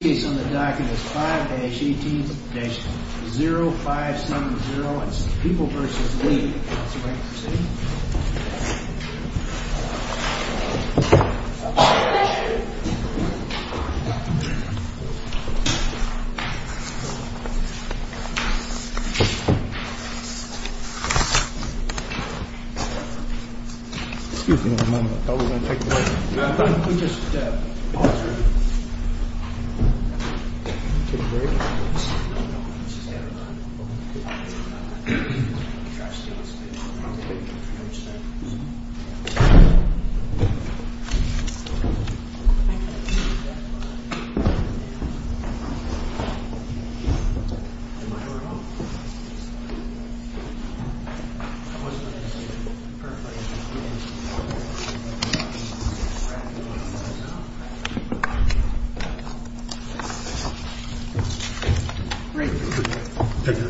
The case on the docket is 5-18-0570. It's People v. Lee. Counsel, may I proceed? Excuse me a moment. I thought we were going to take a break. Can we just pause for a minute?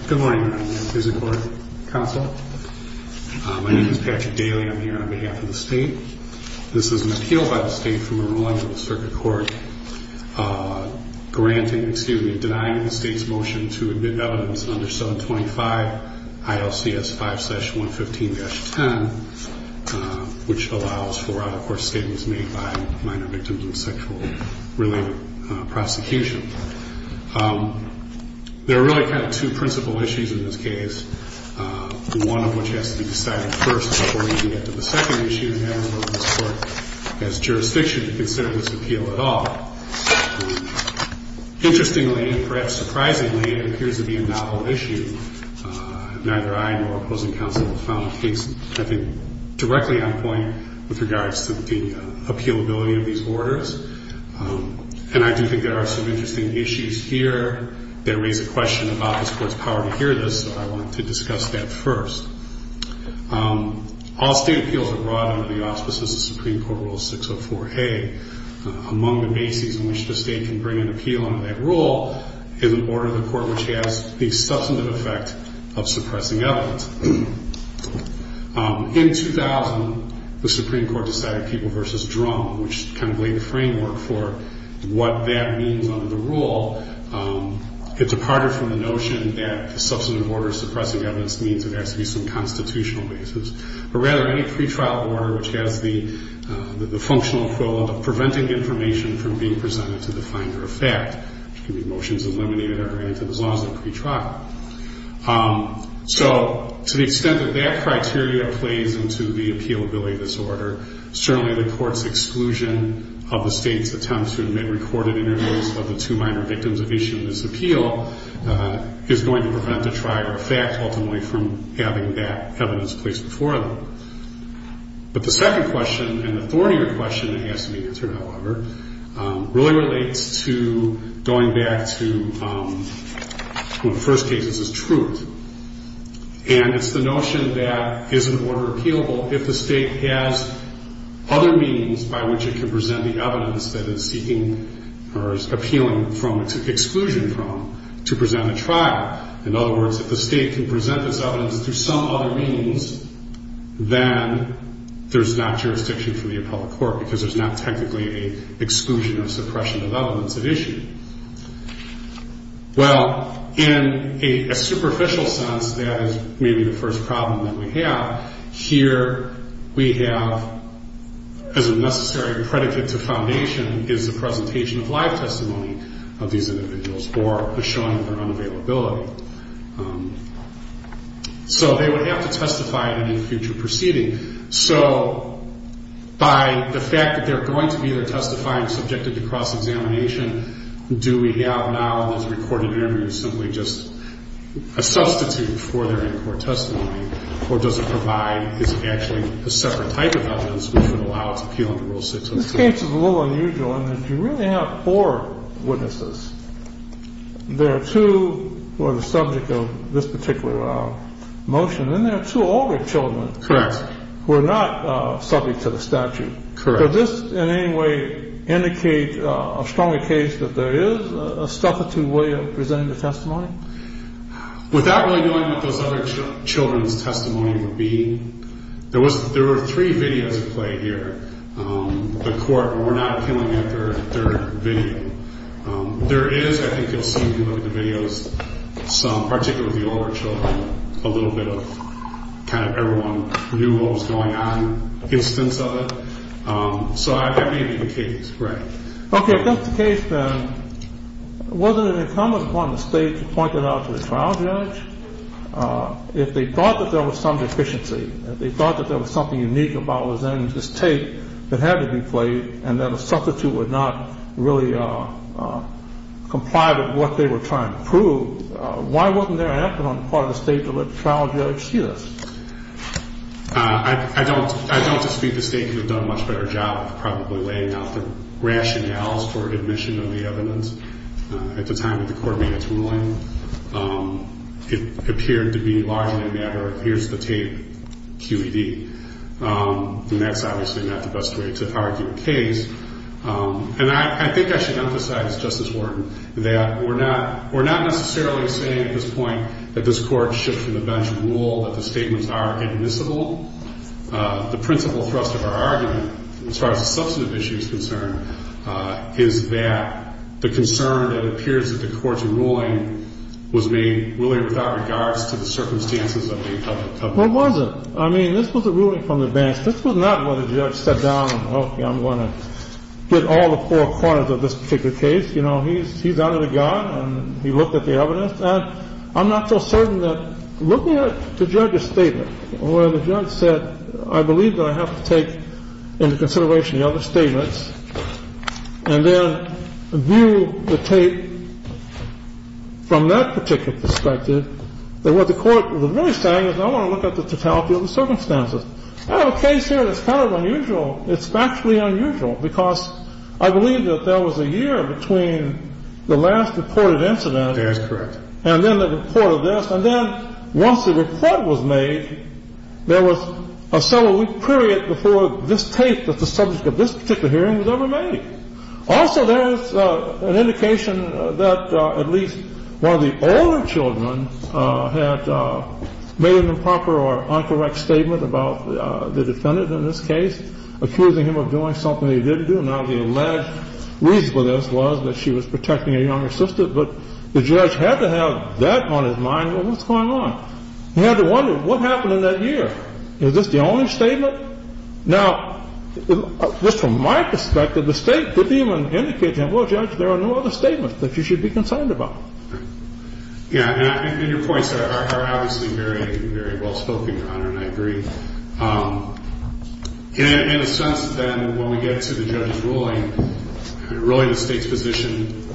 Good morning. I'm Patrick Daly. I'm here on behalf of the state. This is an appeal by the state from a ruling of the circuit court granting, excuse me, denying the state's motion to admit evidence under 725 ILCS 5-115-10, which allows for, of course, statements made by minor victims of sexual-related prosecution. There are really kind of two principal issues in this case, one of which has to be decided first before we can get to the second issue, and I don't know if this Court has jurisdiction to consider this appeal at all. Interestingly, and perhaps surprisingly, it appears to be a novel issue. Neither I nor opposing counsel have found a case, I think, directly on point with regards to the appealability of these orders, and I do think there are some interesting issues here that raise a question about this Court's power to hear this, so I wanted to discuss that first. All state appeals are brought under the auspices of Supreme Court Rule 604A. Among the bases on which the state can bring an appeal under that rule is an order of the court which has the substantive effect of suppressing evidence. In 2000, the Supreme Court decided People v. Drum, which kind of laid the framework for what that means under the rule. It departed from the notion that the substantive order suppressing evidence means it has to be some constitutional basis, but rather any pretrial order which has the functional equivalent of preventing information from being presented to the finder of fact, which can be motions eliminated or granted as long as they're pretrial. So to the extent that that criteria plays into the appealability of this order, certainly the Court's exclusion of the state's attempt to admit recorded interviews of the two minor victims of issue in this appeal is going to prevent a trial or a fact ultimately from having that evidence placed before them. But the second question and the thornier question that has to be answered, however, really relates to going back to when the first case is truth. And it's the notion that is an order appealable if the state has other means by which it can present the evidence that it's seeking or is appealing from, exclusion from, to present a trial? In other words, if the state can present this evidence through some other means, then there's not jurisdiction for the appellate court because there's not technically an exclusion of suppression of evidence at issue. Well, in a superficial sense, that is maybe the first problem that we have. Here we have, as a necessary predicate to foundation, is the presentation of live testimony of these individuals or a showing of their unavailability. So they would have to testify in any future proceeding. So by the fact that they're going to be either testifying or subjected to cross-examination, do we have now in those recorded interviews simply just a substitute for their in-court testimony, or does it provide, is it actually a separate type of evidence which would allow it to appeal under Rule 603? The answer is a little unusual in that you really have four witnesses. There are two who are the subject of this particular motion, and there are two older children who are not subject to the statute. Correct. Does this in any way indicate a stronger case that there is a substitute way of presenting the testimony? Without really knowing what those other children's testimony would be, there were three videos at play here. The court were not appealing at their video. There is, I think you'll see if you look at the videos, some, particularly the older children, a little bit of kind of everyone knew what was going on instance of it. So that may be the case. Right. Okay. If that's the case, then wasn't it incumbent upon the state to point that out to the trial judge? If they thought that there was some deficiency, if they thought that there was something unique about what was in this tape that had to be played and that a substitute would not really comply with what they were trying to prove, why wasn't there an effort on the part of the state to let the trial judge see this? I don't dispute the state could have done a much better job of probably laying out the rationales for admission of the evidence. At the time that the court made its ruling, it appeared to be largely a matter of here's the tape, QED, and that's obviously not the best way to argue a case. And I think I should emphasize, Justice Wharton, that we're not necessarily saying at this point that this court should from the bench rule that the statements are admissible. The principal thrust of our argument as far as the substantive issue is concerned is that the concern that appears at the court's ruling was being really without regards to the circumstances of the public. Well, it wasn't. I mean, this was a ruling from the bench. This was not where the judge sat down and, okay, I'm going to get all the four corners of this particular case. You know, he's under the gun and he looked at the evidence. And I'm not so certain that looking at the judge's statement where the judge said, I believe that I have to take into consideration the other statements and then view the tape from that particular perspective, that what the court was really saying is I want to look at the totality of the circumstances. I have a case here that's kind of unusual. It's factually unusual because I believe that there was a year between the last reported incident. That's correct. And then the report of this. And then once the report was made, there was a several-week period before this tape of the subject of this particular hearing was ever made. Also, there is an indication that at least one of the older children had made an improper or incorrect statement about the defendant in this case, accusing him of doing something he didn't do. Now, the alleged reason for this was that she was protecting a younger sister. But the judge had to have that on his mind, well, what's going on? He had to wonder, what happened in that year? Is this the only statement? Now, just from my perspective, the state didn't even indicate to him, well, Judge, there are no other statements that you should be concerned about. Yeah. And your points are obviously very, very well spoken, Your Honor, and I agree. In a sense, then, when we get to the judge's ruling, really the state's position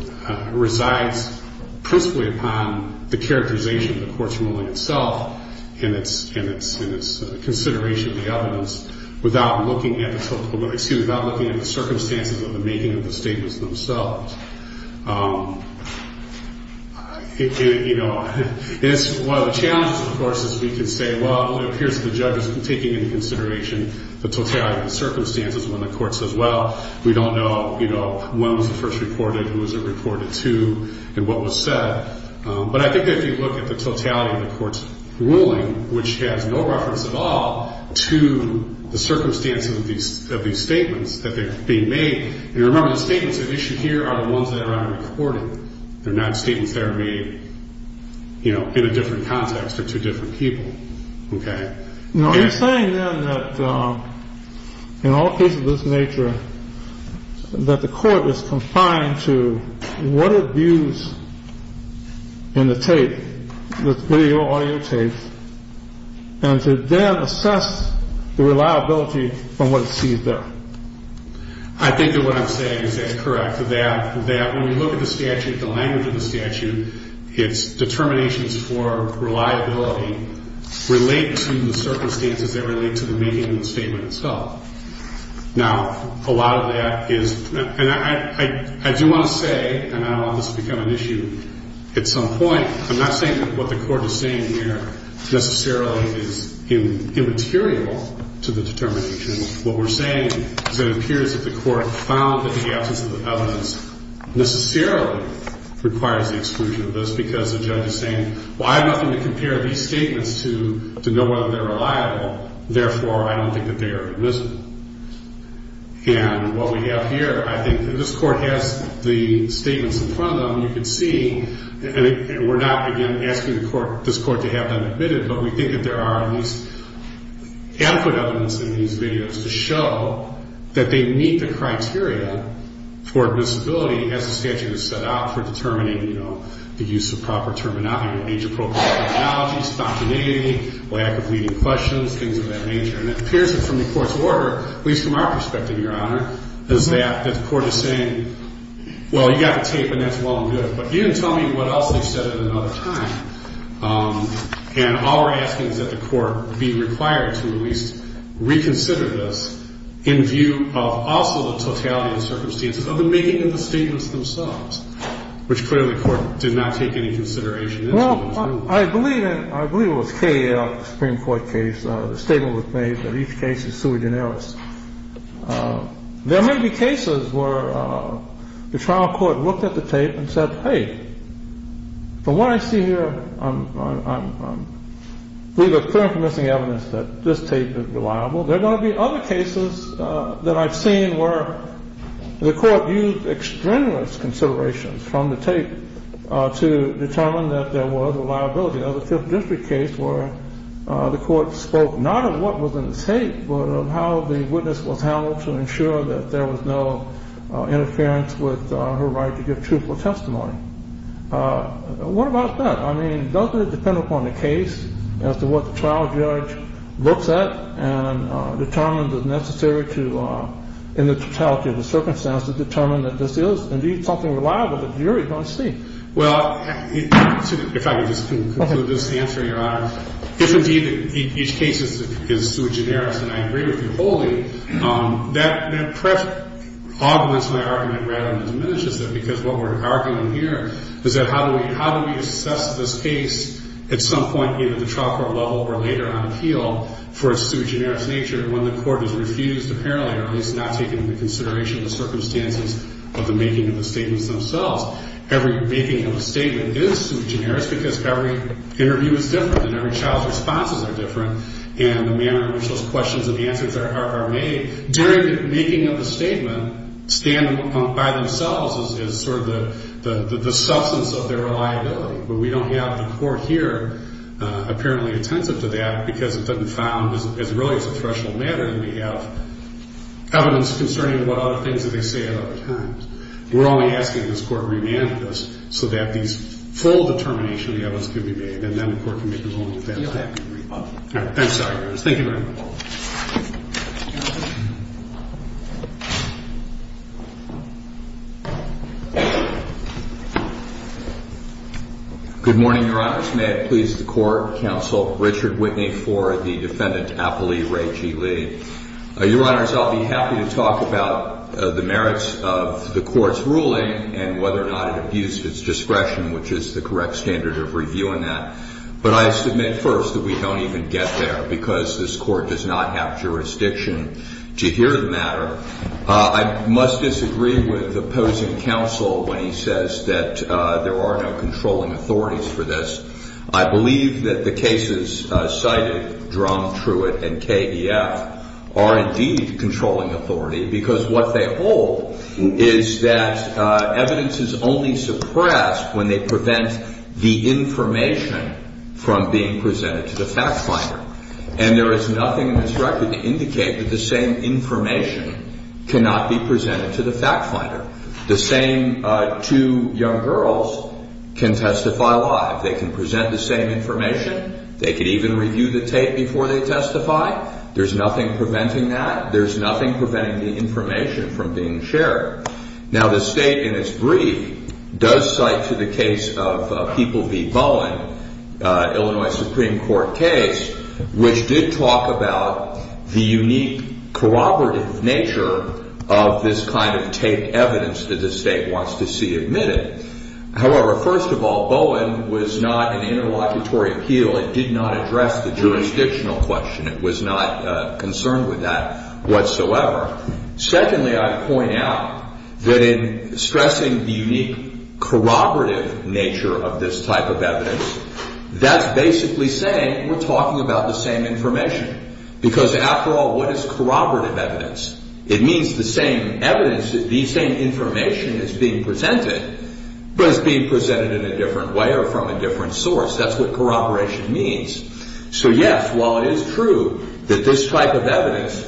resides principally upon the characterization of the court's ruling itself and its consideration of the evidence without looking at the circumstances of the making of the statements themselves. It's one of the challenges, of course, is we can say, well, here's the judge taking into consideration the totality of the circumstances when the court says, well, we don't know when was it first reported, who was it reported to, and what was said. But I think that if you look at the totality of the court's ruling, which has no reference at all to the circumstances of these statements that are being made, and remember, the statements that are issued here are the ones that are not recorded. They're not statements that are made, you know, in a different context or to different people, okay? Now, you're saying, then, that in all cases of this nature, that the court is confined to what it views in the tape, the video, audio tape, and to then assess the reliability of what it sees there. I think that what I'm saying is correct, that when you look at the statute, the language of the statute, its determinations for reliability relate to the circumstances that relate to the making of the statement itself. Now, a lot of that is, and I do want to say, and I don't want this to become an issue at some point, I'm not saying that what the court is saying here necessarily is immaterial to the determination. What we're saying is that it appears that the court found that the absence of the evidence necessarily requires the exclusion of this because the judge is saying, well, I have nothing to compare these statements to to know whether they're reliable. Therefore, I don't think that they are admissible. And what we have here, I think that this court has the statements in front of them. You can see, and we're not, again, asking this court to have them admitted, but we think that there are at least adequate evidence in these videos to show that they meet the criteria for admissibility as the statute is set out for determining, you know, the use of proper terminology, the nature of appropriate terminology, spontaneity, lack of leading questions, things of that nature. And it appears that from the court's order, at least from our perspective, Your Honor, is that the court is saying, well, you got the tape and that's well and good, but you didn't tell me what else they said at another time. And all we're asking is that the court be required to at least reconsider this in view of also the totality of the circumstances of the making of the statements themselves, which clearly the court did not take any consideration into. Well, I believe it was K.L., the Supreme Court case. The statement was made that each case is sui generis. There may be cases where the trial court looked at the tape and said, hey, from what I see here, I believe there's clear and permissive evidence that this tape is reliable. There are going to be other cases that I've seen where the court used extraneous considerations from the tape to determine that there was a liability. Now, the Fifth District case where the court spoke not of what was in the tape, but of how the witness was handled to ensure that there was no interference with her right to give truthful testimony. What about that? I mean, doesn't it depend upon the case as to what the trial judge looks at and determines it necessary to, in the totality of the circumstances, determine that this is indeed something reliable that the jury is going to see? Well, if I could just conclude this answer, Your Honor. If indeed each case is sui generis, and I agree with you wholly, that augments my argument rather than diminishes it because what we're arguing here is that how do we assess this case at some point either at the trial court level or later on appeal for its sui generis nature when the court has refused apparently or at least not taken into consideration the circumstances of the making of the statements themselves. Every making of a statement is sui generis because every interview is different and every child's responses are different, and the manner in which those questions and answers are made during the making of the statement stand by themselves as sort of the substance of their reliability. But we don't have the court here apparently attentive to that because it's been found as really as a threshold matter and we have evidence concerning what other things that they say at other times. We're only asking this court re-manifest so that these full determination of the evidence can be made and then the court can make its own defense. I'm sorry. Thank you very much. Good morning, Your Honors. May it please the Court, Counsel Richard Whitney for the Defendant Apolli Ray G. Lee. Your Honors, I'll be happy to talk about the merits of the Court's ruling and whether or not it abused its discretion, which is the correct standard of reviewing that. But I submit first that we don't even get there because this Court does not have jurisdiction to hear the matter. I must disagree with opposing counsel when he says that there are no controlling authorities for this. I believe that the cases cited, Drum, Truitt, and KEF, are indeed controlling authority because what they hold is that evidence is only suppressed when they prevent the information from being presented to the fact finder. And there is nothing in this record to indicate that the same information cannot be presented to the fact finder. The same two young girls can testify live. They can present the same information. They can even review the tape before they testify. There's nothing preventing that. There's nothing preventing the information from being shared. Now the State, in its brief, does cite to the case of People v. Bowen, Illinois Supreme Court case, which did talk about the unique corroborative nature of this kind of taped evidence that the State wants to see admitted. However, first of all, Bowen was not an interlocutory appeal. It did not address the jurisdictional question. It was not concerned with that whatsoever. Secondly, I point out that in stressing the unique corroborative nature of this type of evidence, that's basically saying we're talking about the same information. Because after all, what is corroborative evidence? It means the same evidence, the same information is being presented, but it's being presented in a different way or from a different source. That's what corroboration means. So yes, while it is true that this type of evidence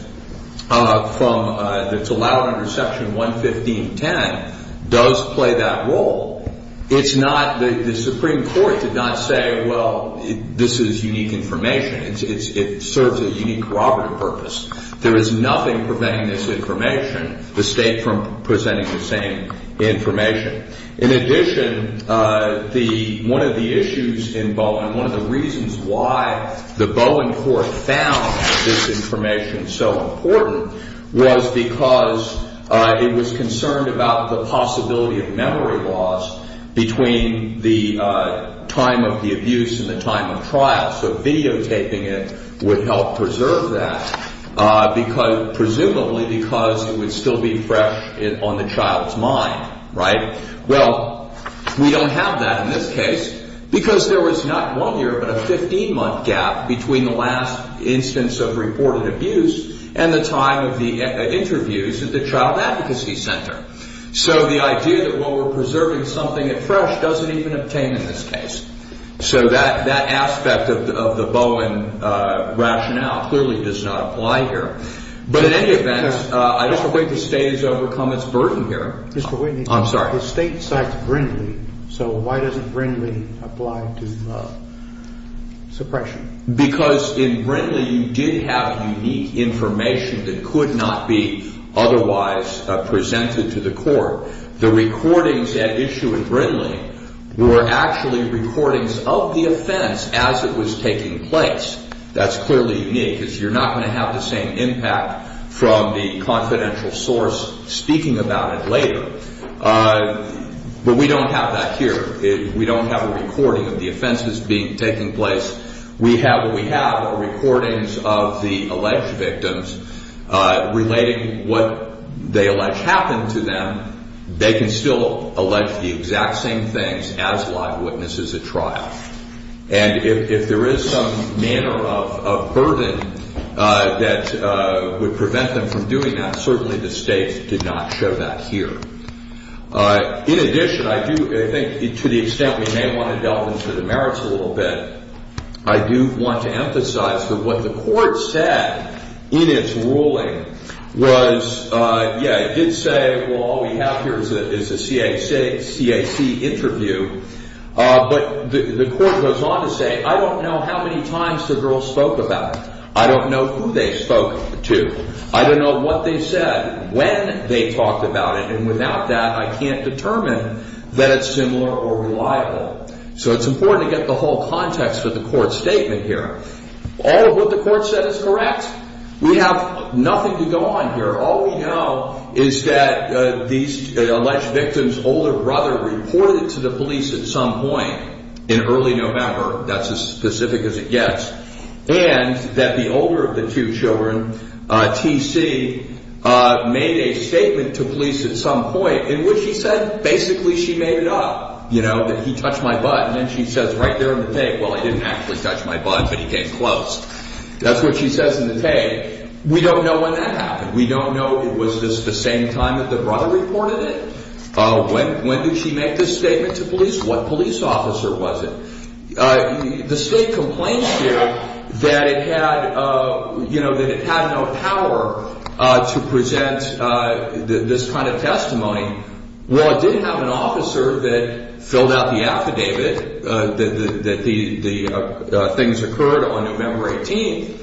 that's allowed under Section 11510 does play that role, the Supreme Court did not say, well, this is unique information. It serves a unique corroborative purpose. There is nothing preventing this information, the State from presenting the same information. In addition, one of the issues in Bowen, one of the reasons why the Bowen Court found this information so important, was because it was concerned about the possibility of memory loss between the time of the abuse and the time of trial. So videotaping it would help preserve that, presumably because it would still be fresh on the child's mind. Right? Well, we don't have that in this case because there was not one year but a 15-month gap between the last instance of reported abuse and the time of the interviews at the Child Advocacy Center. So the idea that while we're preserving something that's fresh doesn't even obtain in this case. So that aspect of the Bowen rationale clearly does not apply here. But in any event, I just don't think the State has overcome its burden here. Mr. Whitney, the State cites Brindley, so why doesn't Brindley apply to suppression? Because in Brindley you did have unique information that could not be otherwise presented to the Court. The recordings at issue in Brindley were actually recordings of the offense as it was taking place. That's clearly unique because you're not going to have the same impact from the confidential source speaking about it later. But we don't have that here. We don't have a recording of the offenses taking place. What we have are recordings of the alleged victims relating what they allege happened to them. They can still allege the exact same things as live witnesses at trial. And if there is some manner of burden that would prevent them from doing that, certainly the State did not show that here. In addition, I do think to the extent we may want to delve into the merits a little bit, I do want to emphasize that what the Court said in its ruling was, yeah, it did say, well, all we have here is a CAC interview. But the Court goes on to say, I don't know how many times the girls spoke about it. I don't know who they spoke to. I don't know what they said, when they talked about it. And without that, I can't determine that it's similar or reliable. So it's important to get the whole context of the Court's statement here. All of what the Court said is correct. We have nothing to go on here. All we know is that these alleged victims' older brother reported to the police at some point in early November. That's as specific as it gets. And that the older of the two children, T.C., made a statement to police at some point in which he said basically she made it up, you know, that he touched my butt. And then she says right there in the tape, well, he didn't actually touch my butt, but he came close. That's what she says in the tape. We don't know when that happened. We don't know, was this the same time that the brother reported it? When did she make this statement to police? What police officer was it? The State complains here that it had, you know, that it had no power to present this kind of testimony. Well, it did have an officer that filled out the affidavit that the things occurred on November 18th.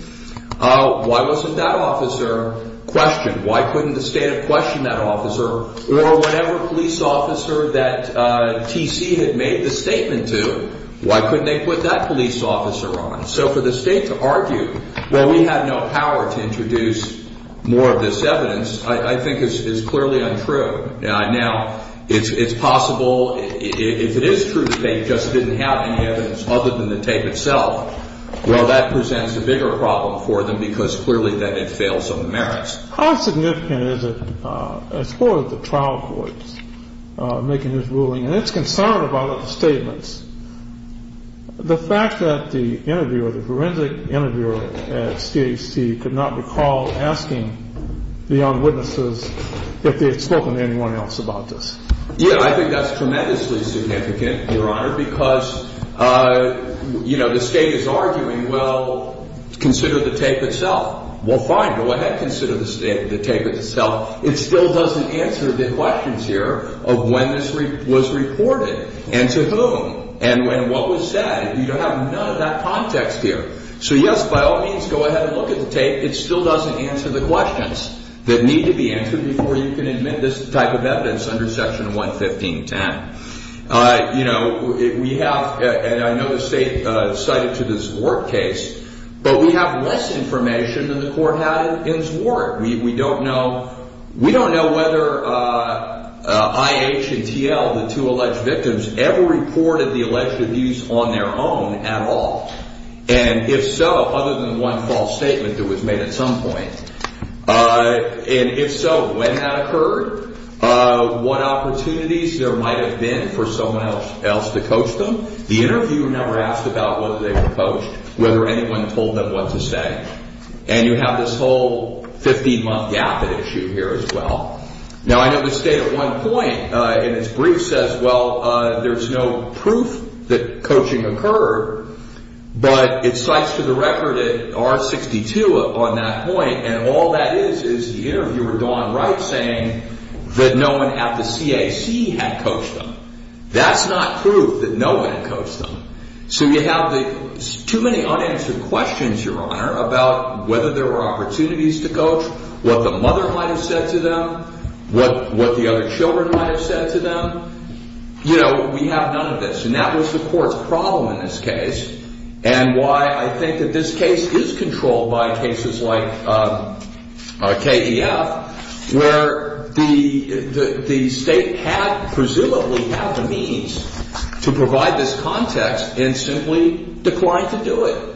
Why wasn't that officer questioned? Why couldn't the State have questioned that officer? Or whatever police officer that T.C. had made the statement to, why couldn't they put that police officer on? So for the State to argue, well, we had no power to introduce more of this evidence, I think is clearly untrue. Now, it's possible if it is true that they just didn't have any evidence other than the tape itself, well, that presents a bigger problem for them because clearly then it fails on the merits. How significant is it as far as the trial court making this ruling? And it's concerned about the statements. The fact that the interviewer, the forensic interviewer at CHC could not recall asking the eyewitnesses if they had spoken to anyone else about this. Yeah, I think that's tremendously significant, Your Honor, because, you know, the State is arguing, well, consider the tape itself. Well, fine, go ahead and consider the tape itself. It still doesn't answer the questions here of when this was reported and to whom and when what was said. You don't have none of that context here. So, yes, by all means, go ahead and look at the tape. It still doesn't answer the questions that need to be answered before you can admit this type of evidence under Section 11510. You know, we have, and I know the State cited to this work case, but we have less information than the court had in its work. We don't know. We don't know whether IH and TL, the two alleged victims, ever reported the alleged abuse on their own at all. And if so, other than one false statement that was made at some point, and if so, when that occurred, what opportunities there might have been for someone else to coach them. The interviewer never asked about whether they were coached, whether anyone told them what to say. And you have this whole 15-month gap at issue here as well. Now, I know the State at one point in its brief says, well, there's no proof that coaching occurred, but it cites to the record at R62 on that point, and all that is is the interviewer, Don Wright, saying that no one at the CAC had coached them. That's not proof that no one had coached them. So you have too many unanswered questions, Your Honor, about whether there were opportunities to coach, what the mother might have said to them, what the other children might have said to them. You know, we have none of this, and that was the court's problem in this case, and why I think that this case is controlled by cases like KEF, where the State had presumably had the means to provide this context and simply declined to do it.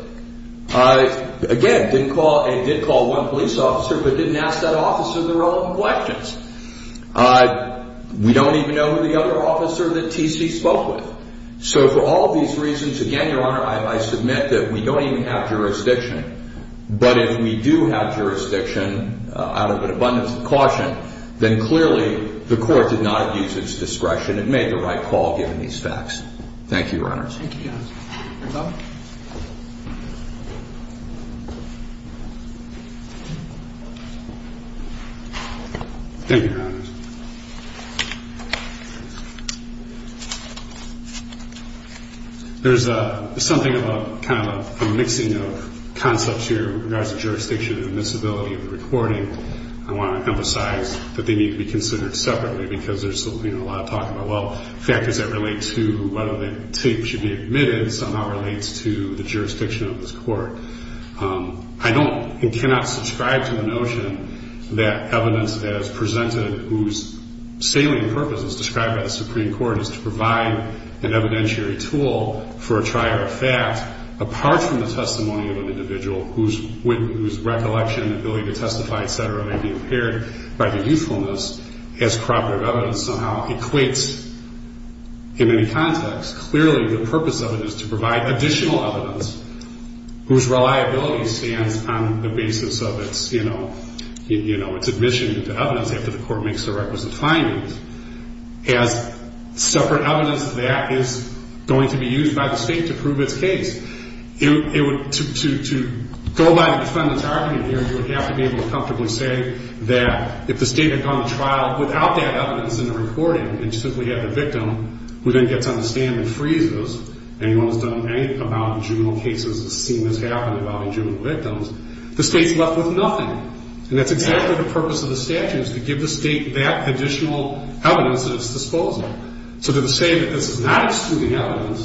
Again, it did call one police officer, but didn't ask that officer the relevant questions. We don't even know who the other officer that TC spoke with. So for all of these reasons, again, Your Honor, I submit that we don't even have jurisdiction, but if we do have jurisdiction out of an abundance of caution, then clearly the court did not abuse its discretion and made the right call given these facts. Thank you, Your Honor. Thank you, Your Honor. Your Honor. Thank you, Your Honor. There's something about kind of a mixing of concepts here in regards to jurisdiction and admissibility of the recording. I want to emphasize that they need to be considered separately because there's a lot of talk about, well, factors that relate to whether the tape should be admitted somehow relates to the jurisdiction of this court. I don't and cannot subscribe to the notion that evidence that is presented whose salient purpose is described by the Supreme Court is to provide an evidentiary tool for a trier of fact apart from the testimony of an individual whose recollection, ability to testify, et cetera, may be impaired by the usefulness as corroborative evidence somehow equates in any context. Clearly, the purpose of it is to provide additional evidence whose reliability stands on the basis of its, you know, its admission into evidence after the court makes the requisite findings as separate evidence that is going to be used by the state to prove its case. To go by the defendant's argument here, you would have to be able to comfortably say that if the state had gone to trial without that evidence in the recording and simply had the victim, who then gets on the stand and frees us, anyone who's done anything about juvenile cases has seen this happen involving juvenile victims, the state's left with nothing. And that's exactly the purpose of the statute is to give the state that additional evidence at its disposal. So to say that this is not excluding evidence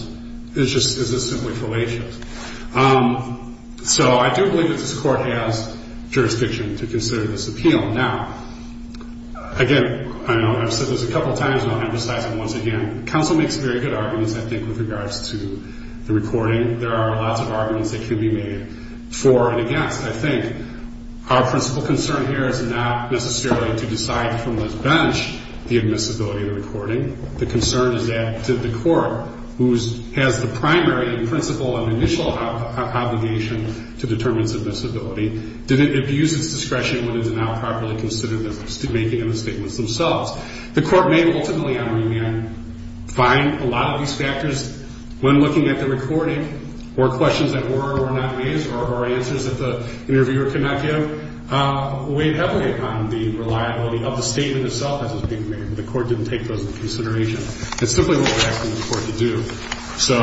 is just simply fallacious. So I do believe that this court has jurisdiction to consider this appeal. Now, again, I know I've said this a couple of times and I'll emphasize it once again. Counsel makes very good arguments, I think, with regards to the recording. There are lots of arguments that can be made for and against. I think our principal concern here is not necessarily to decide from this bench the admissibility of the recording. The concern is that the court, who has the primary and principal and initial obligation to determine its admissibility, did it abuse its discretion when it did not properly consider the making of the statements themselves. The court may ultimately, I mean, find a lot of these factors when looking at the recording or questions that were or were not raised or answers that the interviewer could not give, weighed heavily upon the reliability of the statement itself as it's being made. The court didn't take those into consideration. It's simply what we're asking the court to do. So,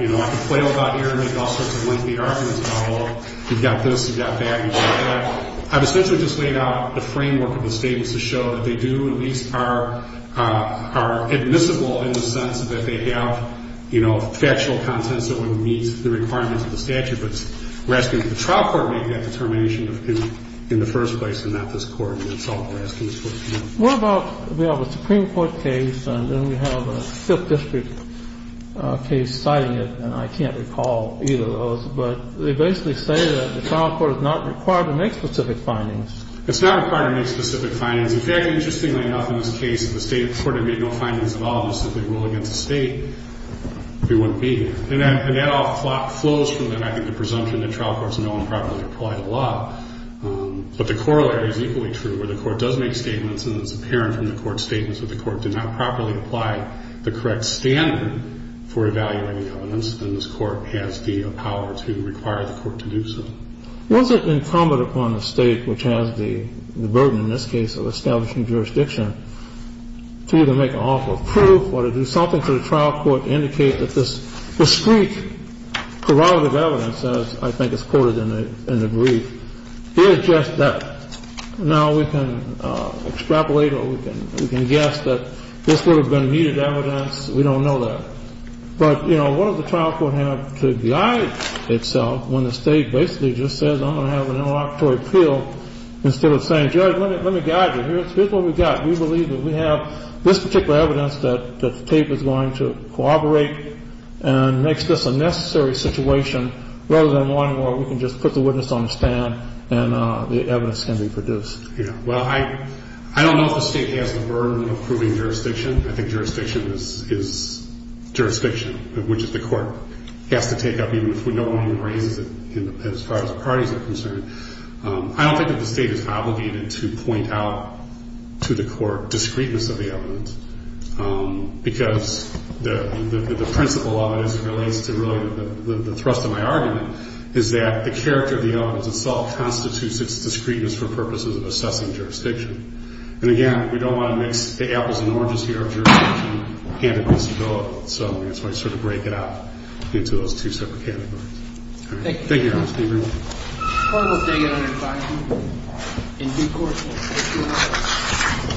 you know, I could flail about here and make all sorts of lengthy arguments about, well, you've got this, you've got that, you've got that. I've essentially just laid out the framework of the statements to show that they do at least are admissible in the sense that they have, you know, factual contents that would meet the requirements of the statute. But we're asking that the trial court make that determination in the first place and not this Court. And that's all we're asking this Court to do. What about, you know, the Supreme Court case, and then we have a Fifth District case citing it. And I can't recall either of those. But they basically say that the trial court is not required to make specific findings. It's not required to make specific findings. In fact, interestingly enough, in this case, the State of Florida made no findings at all. And a lot of that flows from, I think, the presumption that trial courts no improperly apply the law. But the corollary's equally true, where the court does make statements and it's apparent from the court's statements that the court did not properly apply the correct standard for evaluating elements. Then this Court has the power to require the court to do so. Was it incumbent upon the State, which has the burden in this case of establishing jurisdiction, to either make an offer of proof or do something to the trial court to indicate that this discreet corroborative evidence, as I think is quoted in the brief, is just that? Now, we can extrapolate or we can guess that this would have been needed evidence. We don't know that. But, you know, what does the trial court have to guide itself when the State basically just says, I'm going to have an interlocutory appeal, instead of saying, Judge, let me guide you. Here's what we've got. We believe that we have this particular evidence that the tape is going to corroborate and makes this a necessary situation rather than one where we can just put the witness on the stand and the evidence can be produced. Yeah. Well, I don't know if the State has the burden of proving jurisdiction. I think jurisdiction is jurisdiction, which the court has to take up, even if no one raises it as far as the parties are concerned. I don't think that the State is obligated to point out to the court discreteness of the evidence because the principle of it, as it relates to really the thrust of my argument, is that the character of the evidence itself constitutes its discreteness for purposes of assessing jurisdiction. And, again, we don't want to mix the apples and oranges here of jurisdiction and of disability. So that's why I sort of break it out into those two separate categories. Thank you. Thank you, Your Honor. Thank you very much. Thank you, Your Honor.